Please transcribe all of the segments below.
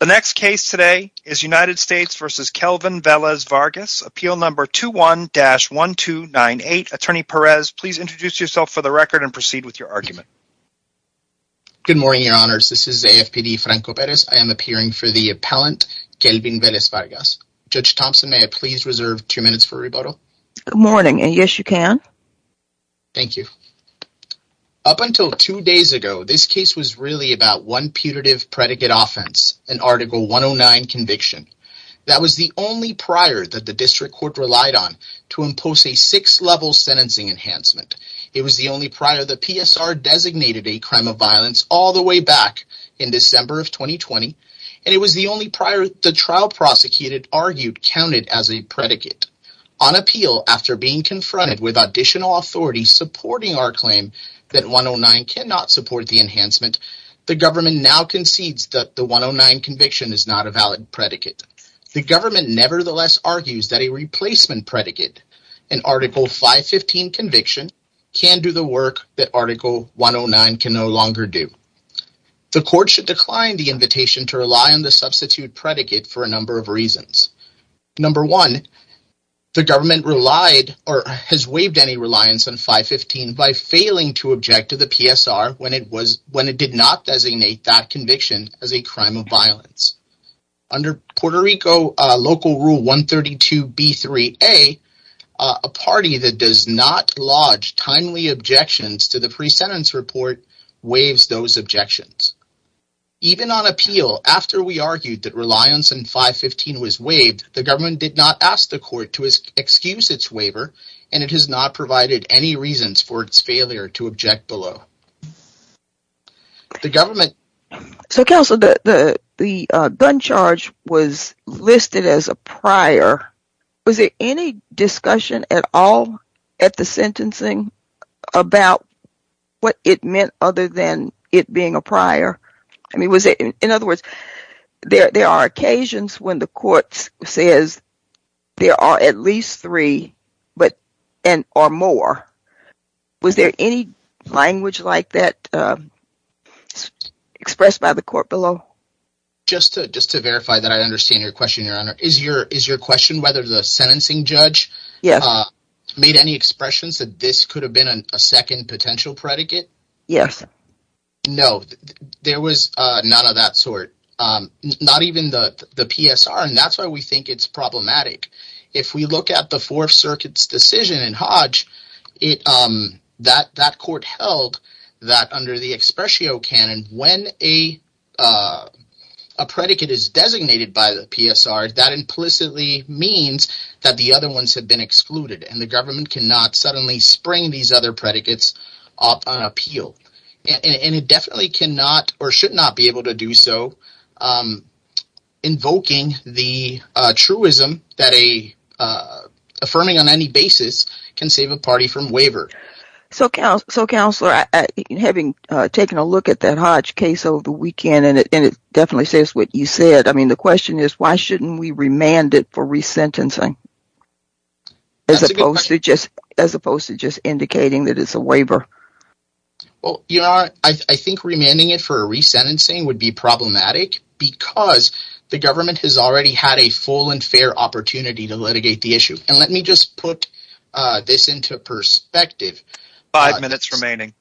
The next case today is United States v. Kelvin Velez-Vargas, Appeal Number 21-1298. Attorney Perez, please introduce yourself for the record and proceed with your argument. Good morning, Your Honors. This is AFPD Franco Perez. I am appearing for the appellant Kelvin Velez-Vargas. Judge Thompson, may I please reserve two minutes for rebuttal? Good morning. Yes, you can. Thank you. Up until two days ago, this case was really about one putative predicate offense, an Article 109 conviction. That was the only prior that the district court relied on to impose a six-level sentencing enhancement. It was the only prior the PSR designated a crime of violence all the way back in December of 2020, and it was the only prior the trial prosecutor argued counted as a predicate. On appeal, after being confronted with additional authorities supporting our claim that 109 cannot support the enhancement, the government now concedes that the 109 conviction is not a valid predicate. The government nevertheless argues that a replacement predicate, an Article 515 conviction, can do the work that Article 109 can no longer do. The court should decline the invitation to rely on the substitute predicate for a number of reasons. Number one, the government relied or has waived any reliance on 515 by failing to object to the PSR when it was, when it did not designate that conviction as a crime of violence. Under Puerto Rico Local Rule 132b3a, a party that does not lodge timely objections to the pre-sentence report waives those objections. Even on appeal, after we argued that reliance on 515 was waived, the government did not ask the court to excuse its waiver, and it has not provided any reasons for its failure to object below. The government... So, Counsel, the gun charge was listed as a prior. Was there any discussion at all at the sentencing about what it meant other than it being a prior? I mean, was it... In other words, there are occasions when the court says there are at least three or more. Was there any language like that expressed by the court below? Just to verify that I understand your question, Your Honor. Is your question whether the sentencing judge... Yes. ...made any expressions that this could have been a second potential predicate? Yes. No, there was none of that sort, not even the PSR, and that's why we think it's problematic. If we look at the Fourth Circuit's decision in Hodge, that court held that under the expressio canon, when a predicate is designated by the PSR, that implicitly means that the other ones have been excluded, and the government cannot suddenly spring these other predicates up on appeal. And it definitely cannot or should not be able to do so invoking the truism that affirming on any basis can save a party from waiver. So, Counselor, having taken a look at that Hodge case over the weekend, and it definitely says what you said, the question is, why shouldn't we remand it for resentencing? That's a good question. As opposed to just indicating that it's a waiver. Well, Your Honor, I think remanding it for a resentencing would be problematic because the government has already had a full and fair opportunity to litigate the issue. And let me just put this into perspective. Five minutes remaining.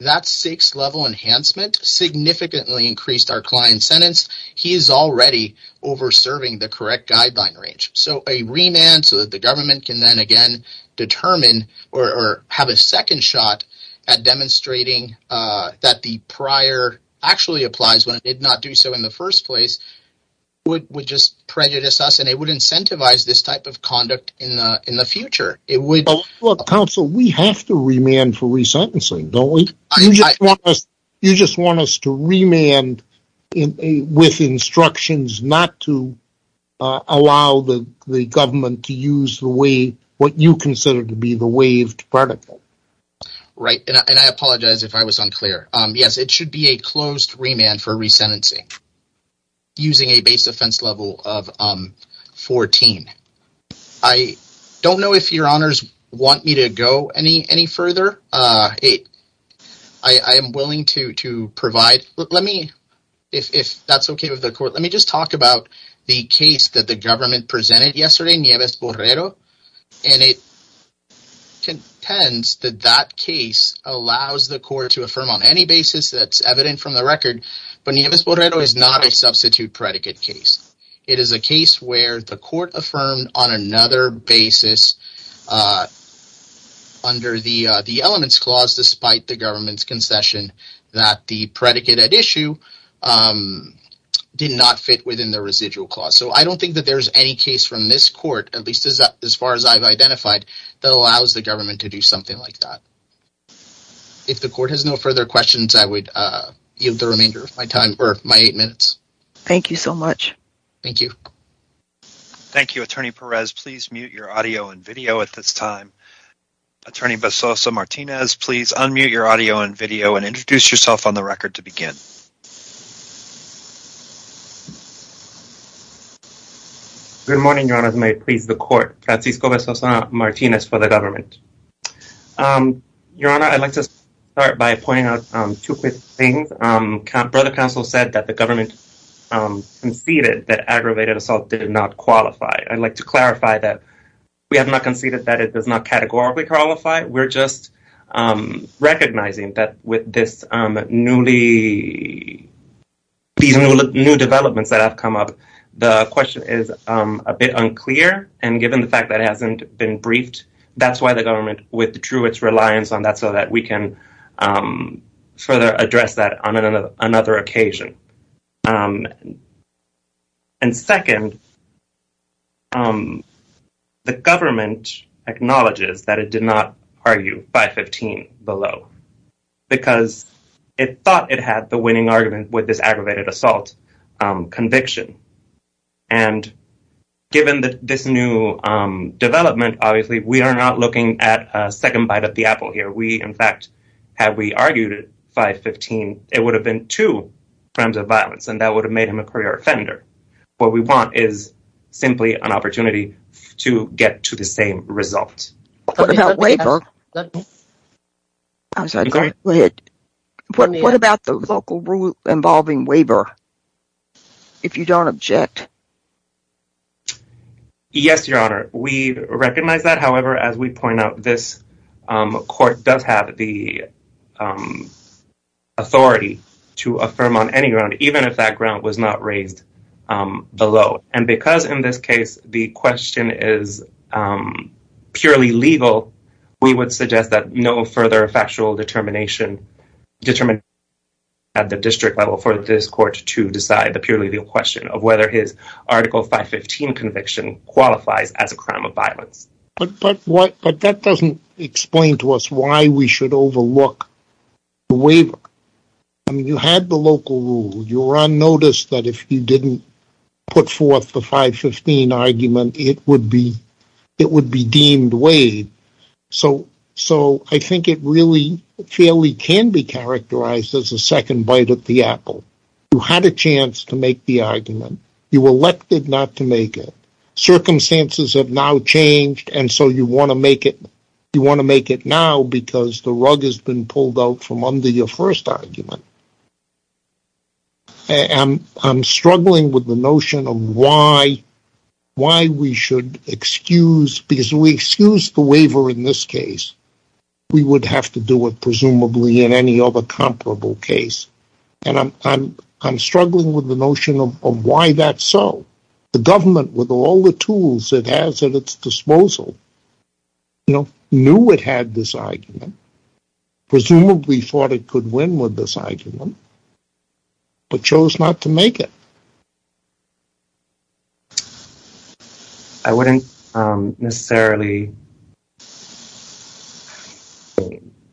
That six-level enhancement significantly increased our client's sentence. He is already over-serving the correct guideline range. So a remand so that the government can then again determine or have a second shot at demonstrating that the prior actually applies when it did not do so in the first place would just prejudice us and it would incentivize this type of conduct in the future. It would... Look, Counsel, we have to remand for resentencing, don't we? You just want us to remand with instructions not to allow the government to use the way what you consider to be the waived protocol. Right, and I apologize if I was unclear. Yes, it should be a closed remand for resentencing using a base offense level of 14. I don't know if Your Honors want me to go any further. I am willing to provide. Let me, if that's okay with the court, let me just talk about the case that the government presented yesterday, Nieves-Borrero, and it contends that that case allows the court to affirm on any basis that's evident from the record, but Nieves-Borrero is not a substitute predicate case. It is a case where the court affirmed on another basis under the elements clause despite the government's concession that the predicate at issue did not fit within the residual clause. So I don't think that there's any case from this court, at least as far as I've identified, that allows the government to do something like that. If the court has no further questions, I would yield the remainder of my time or my eight minutes. Thank you so much. Thank you. Thank you, Attorney Perez. Please mute your audio and video at this time. Attorney Besoza-Martinez, please unmute your audio and video and introduce yourself on the record to begin. Good morning, Your Honor. May it please the court. Francisco Besoza-Martinez for the government. Your Honor, I'd like to start by pointing out two quick things. Brother Counsel said that the government conceded that aggravated assault did not qualify. I'd like to clarify that we have not conceded that it does not categorically qualify. We're just recognizing that with these new developments that have come up, the question is a bit unclear. And given the fact that it hasn't been briefed, that's why the government withdrew its reliance on that so that we can further address that on another occasion. And second, the government acknowledges that it did not argue 515 below because it thought it had the winning argument with this aggravated assault conviction. And given this new development, obviously, we are not looking at a second bite of the apple here. In fact, had we argued 515, it would have been two crimes of violence and that would have made him a career offender. What we want is simply an opportunity to get to the same result. What about the local rule involving waiver, if you don't object? Yes, Your Honor, we recognize that. However, as we point out, this court does have the authority to affirm on any ground, even if that ground was not raised below. And because in this case, the question is purely legal, we would suggest that no further factual determination at the district level for this court to decide the purely legal question of whether his Article 515 conviction qualifies as a crime of violence. But that doesn't explain to us why we should overlook the waiver. You had the local rule. You were on notice that if you didn't put forth the 515 argument, it would be deemed waived. So I think it really fairly can be characterized as a second bite at the apple. You had a chance to make the argument. You elected not to make it. Circumstances have now changed, and so you want to make it now because the rug has been pulled out from under your first argument. I'm struggling with the notion of why we should excuse, because if we excuse the waiver in this case, we would have to do it presumably in any other comparable case. And I'm struggling with the notion of why that's so. The government, with all the tools it has at its disposal, knew it had this argument, presumably thought it could win with this argument, but chose not to make it. I wouldn't necessarily...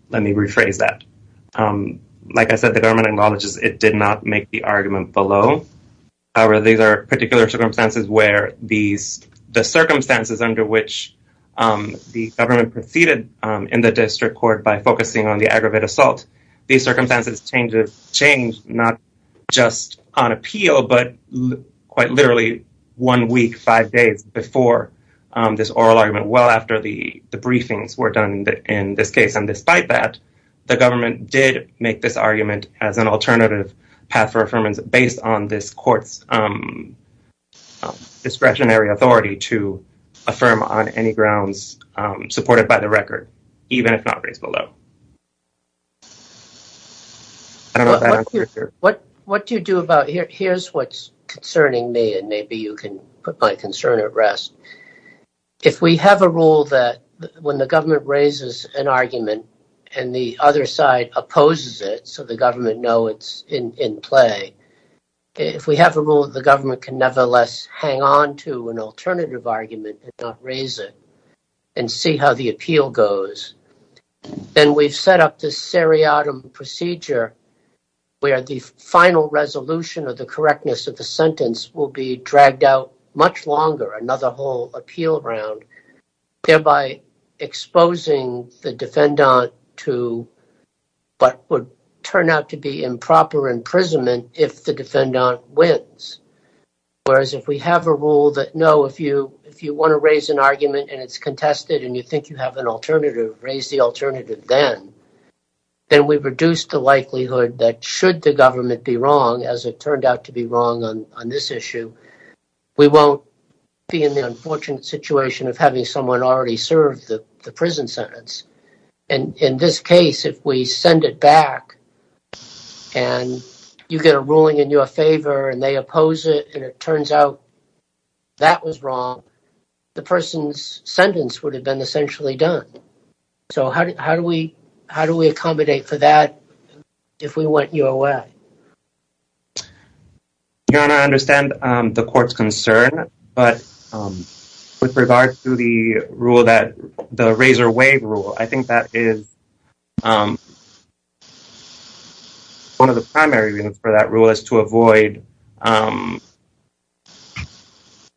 Let me rephrase that. Like I said, the government acknowledges it did not make the argument below. However, these are particular circumstances where the circumstances under which the government proceeded in the district court by focusing on the aggravated assault, these circumstances changed not just on appeal, but quite literally one week, five days before this oral argument, well after the briefings were done in this case. And despite that, the government did make this argument as an alternative path for based on this court's discretionary authority to affirm on any grounds supported by the record, even if not raised below. What do you do about... Here's what's concerning me, and maybe you can put my concern at rest. If we have a rule that when the government raises an argument and the other side opposes it, the government knows it's in play, if we have a rule that the government can nevertheless hang on to an alternative argument and not raise it and see how the appeal goes, then we've set up this seriatim procedure where the final resolution of the correctness of the sentence will be dragged out much longer, another whole appeal round, thereby exposing the defendant to what would turn out to be improper imprisonment if the defendant wins. Whereas if we have a rule that, no, if you want to raise an argument and it's contested and you think you have an alternative, raise the alternative then, then we reduce the likelihood that should the government be wrong, as it turned out to be wrong on this issue, we won't be in the unfortunate situation of having someone already serve the prison sentence. In this case, if we send it back and you get a ruling in your favor and they oppose it and it turns out that was wrong, the person's sentence would have been essentially done. So how do we accommodate for that if we went your way? Your Honor, I understand the court's concern, but with regard to the razor wave rule, I think that is one of the primary reasons for that rule is to avoid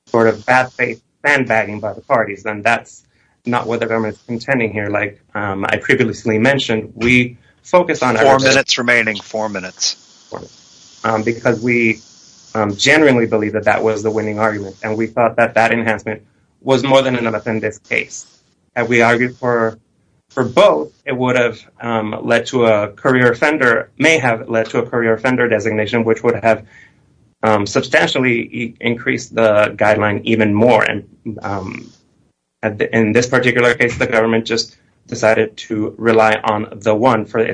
sort of bad faith sandbagging by the parties, and that's not what the government's intending here. Like I previously mentioned, we focus on- Four minutes remaining, four minutes. Because we genuinely believe that that was the winning argument, and we thought that that enhancement was more than enough in this case. Had we argued for both, it would have led to a courier offender, may have led to a courier offender designation, which would have substantially increased the guideline even more. And in this particular case, the government just decided to rely on the one for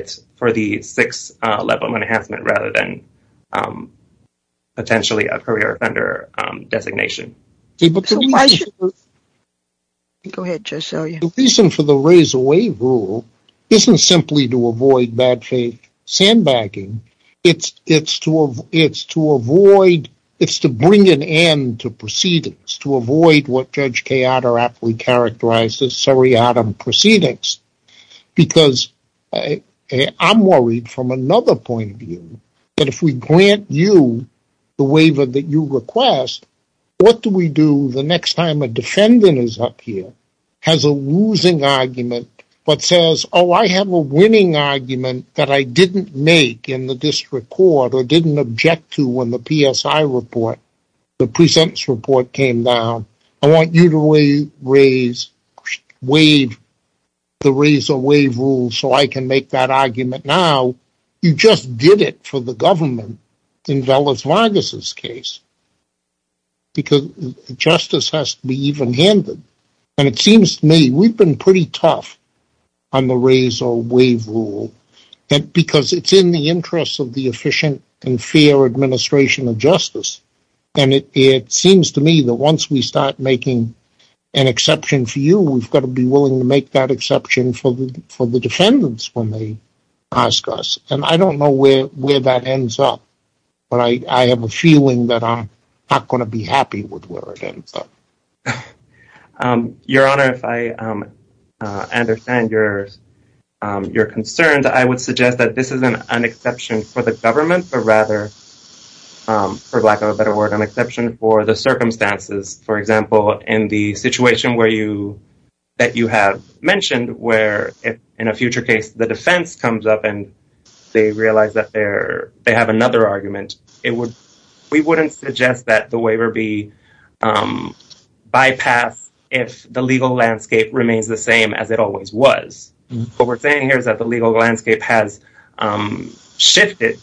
the six-level enhancement rather than potentially a courier offender designation. Go ahead, Judge Selya. The reason for the razor wave rule isn't simply to avoid bad faith sandbagging, it's to avoid, it's to bring an end to proceedings, to avoid what Judge Kayada aptly characterized as seriatim proceedings. Because I'm worried from another point of view, that if we grant you the waiver that you request, what do we do the next time a defendant is up here, has a losing argument, but says, oh, I have a winning argument that I didn't make in the district court or didn't object to when the PSI report, the presentence report came down. I want you to waive the razor wave rule so I can make that argument now. You just did it for the government in Dulles Vargas' case. Because justice has to be even-handed. And it seems to me we've been pretty tough on the razor wave rule because it's in the interest of the efficient and fair administration of justice. And it seems to me that once we start making an exception for you, we've got to be willing to make that exception for the defendants when they ask us. And I don't know where that ends up, but I have a feeling that I'm not going to be happy with where it ends up. Your Honor, if I understand your concerns, I would suggest that this isn't an exception for the government, but rather, for lack of a better word, an exception for the circumstances. For example, in the situation that you have mentioned, where in a future case, the defense comes up and they realize that they have another argument, we wouldn't suggest that waiver be bypassed if the legal landscape remains the same as it always was. What we're saying here is that the legal landscape has shifted.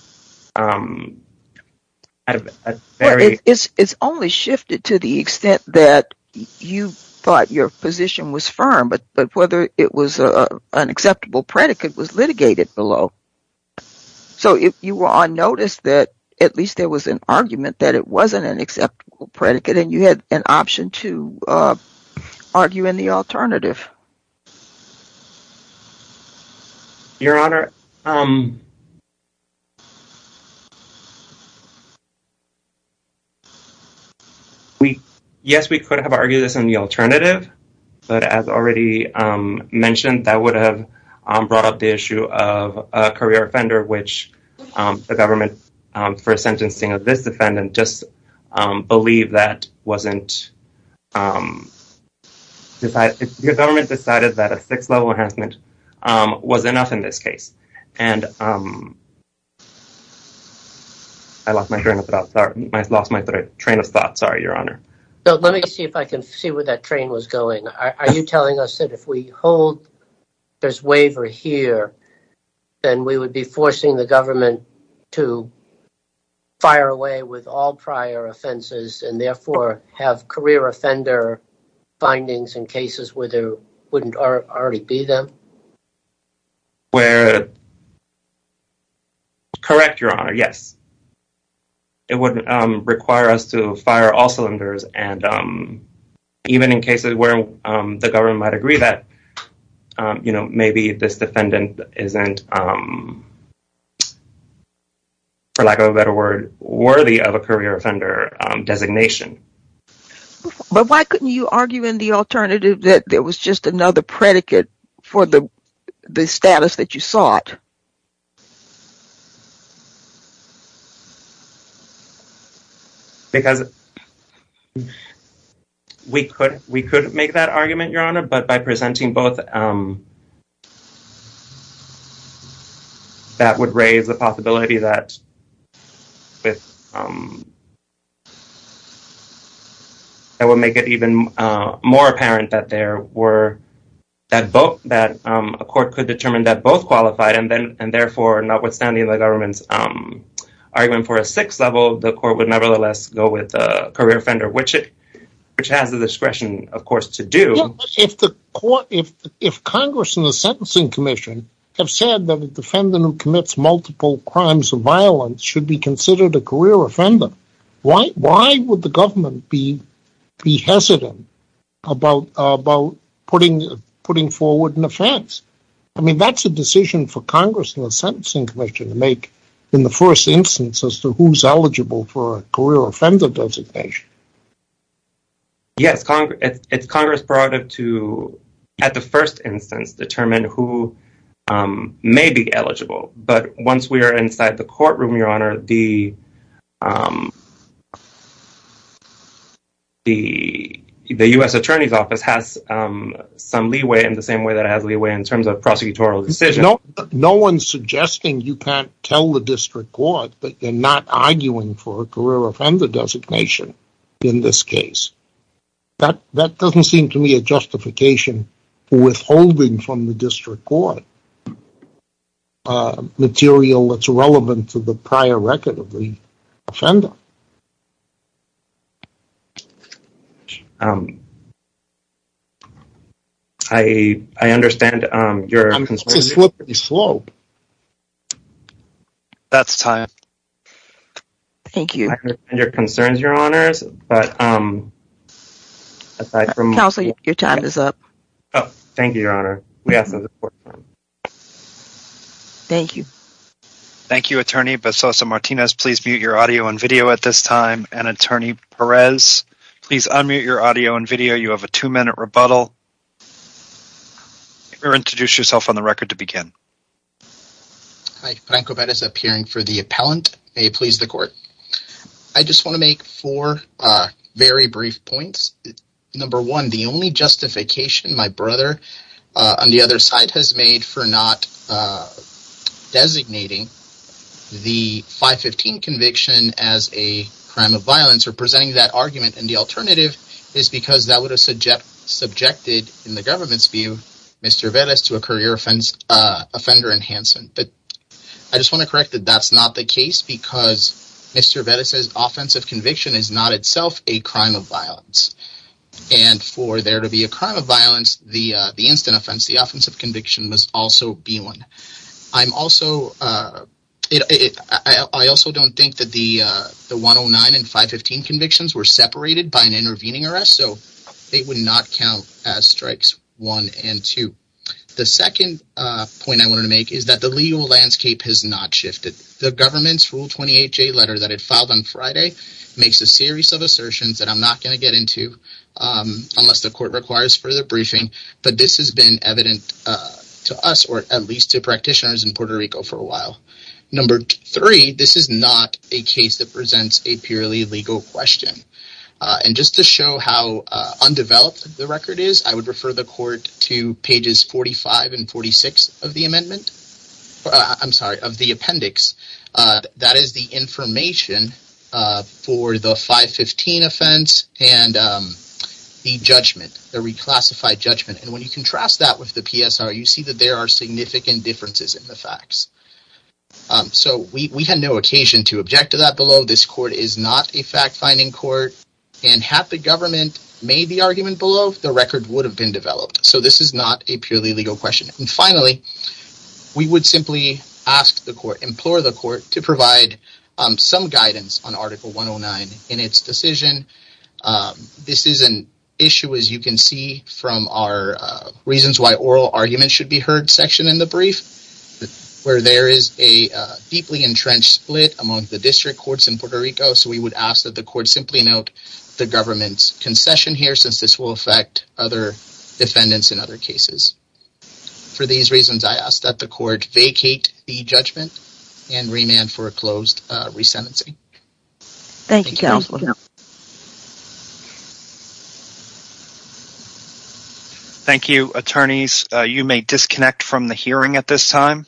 It's only shifted to the extent that you thought your position was firm, but whether it was an acceptable predicate was litigated below. So, you were on notice that at least there was an argument that it wasn't an acceptable predicate, and you had an option to argue in the alternative. Your Honor, yes, we could have argued this in the alternative, but as already mentioned, that would have brought the issue of a career offender, which the government, for sentencing of this defendant, just believed that wasn't decided. The government decided that a sixth level enhancement was enough in this case, and I lost my train of thought. Sorry, Your Honor. So, let me see if I can see where that train was going. Are you telling us that if we hold this waiver here, then we would be forcing the government to fire away with all prior offenses and therefore have career offender findings in cases where there wouldn't already be them? Correct, Your Honor, yes. It would require us to fire all offenders, and even in cases where the government might agree that maybe this defendant isn't, for lack of a better word, worthy of a career offender designation. But why couldn't you argue in the alternative that there was just another predicate for the status that you sought? Because we could make that argument, Your Honor, but by presenting both, that would raise the possibility that it would make it even more apparent that a court could determine that both qualified and that therefore notwithstanding the government's argument for a sixth level, the court would nevertheless go with a career offender, which it has the discretion, of course, to do. If Congress and the Sentencing Commission have said that a defendant who commits multiple crimes of violence should be considered a career offender, why would the government be hesitant about putting forward an offense? I mean, that's a decision for Congress and the Sentencing Commission to make in the first instance as to who's eligible for a career offender designation. Yes, it's Congress' prerogative to, at the first instance, determine who may be eligible. But once we are inside the courtroom, Your Honor, the U.S. Attorney's Office has some leeway in the same way that it has leeway in terms of prosecutorial decisions. No one's suggesting you can't tell the district court that you're not arguing for a career offender designation in this case. That doesn't seem to me a justification for withholding from the district court material that's relevant to the prior record of the offender. I understand your concerns, Your Honors, but... Your time is up. Thank you, Your Honor. Thank you. Thank you, Attorney. Basosa-Martinez, please mute your audio and video at this time. And, Attorney Perez, please unmute your audio and video. You have a two-minute rebuttal. Introduce yourself on the record to begin. Hi, Branco Perez, appearing for the appellant. May it please the Court. I just want to make four very brief points. Number one, the only justification my brother on the other side has made for not designating the 515 conviction as a crime of violence or presenting that argument in the alternative is because that would have subjected, in the government's view, Mr. Velez to a career offender enhancement. But I just want to correct that that's not the case because Mr. Velez's offensive conviction is not itself a crime of violence. And for there to be a crime of violence, the instant offense, the offensive conviction, must also be one. I'm also... I also don't think that the 109 and 515 convictions were separated by an intervening arrest, so they would not count as strikes one and two. The second point I wanted to make is that the government's Rule 28J letter that it filed on Friday makes a series of assertions that I'm not going to get into unless the Court requires further briefing, but this has been evident to us or at least to practitioners in Puerto Rico for a while. Number three, this is not a case that presents a purely legal question. And just to show how undeveloped the record is, I would refer the Court to pages 45 and 46 of the amendment. I'm sorry, of the appendix. That is the information for the 515 offense and the judgment, the reclassified judgment. And when you contrast that with the PSR, you see that there are significant differences in the facts. So we had no occasion to object to that below. This Court is not a fact-finding court, and had the government made the argument below, the record would have been developed. So this is not a purely legal question. And finally, we would simply ask the Court, implore the Court, to provide some guidance on Article 109 in its decision. This is an issue, as you can see from our reasons why oral arguments should be heard section in the brief, where there is a deeply entrenched split among the district courts in Puerto Rico. So we would ask that the Court simply note the government's concession here, since this will affect other defendants in other cases. For these reasons, I ask that the Court vacate the judgment and remand for a closed resentencing. Thank you, Counselor. Thank you, attorneys. You may disconnect from the hearing at this time.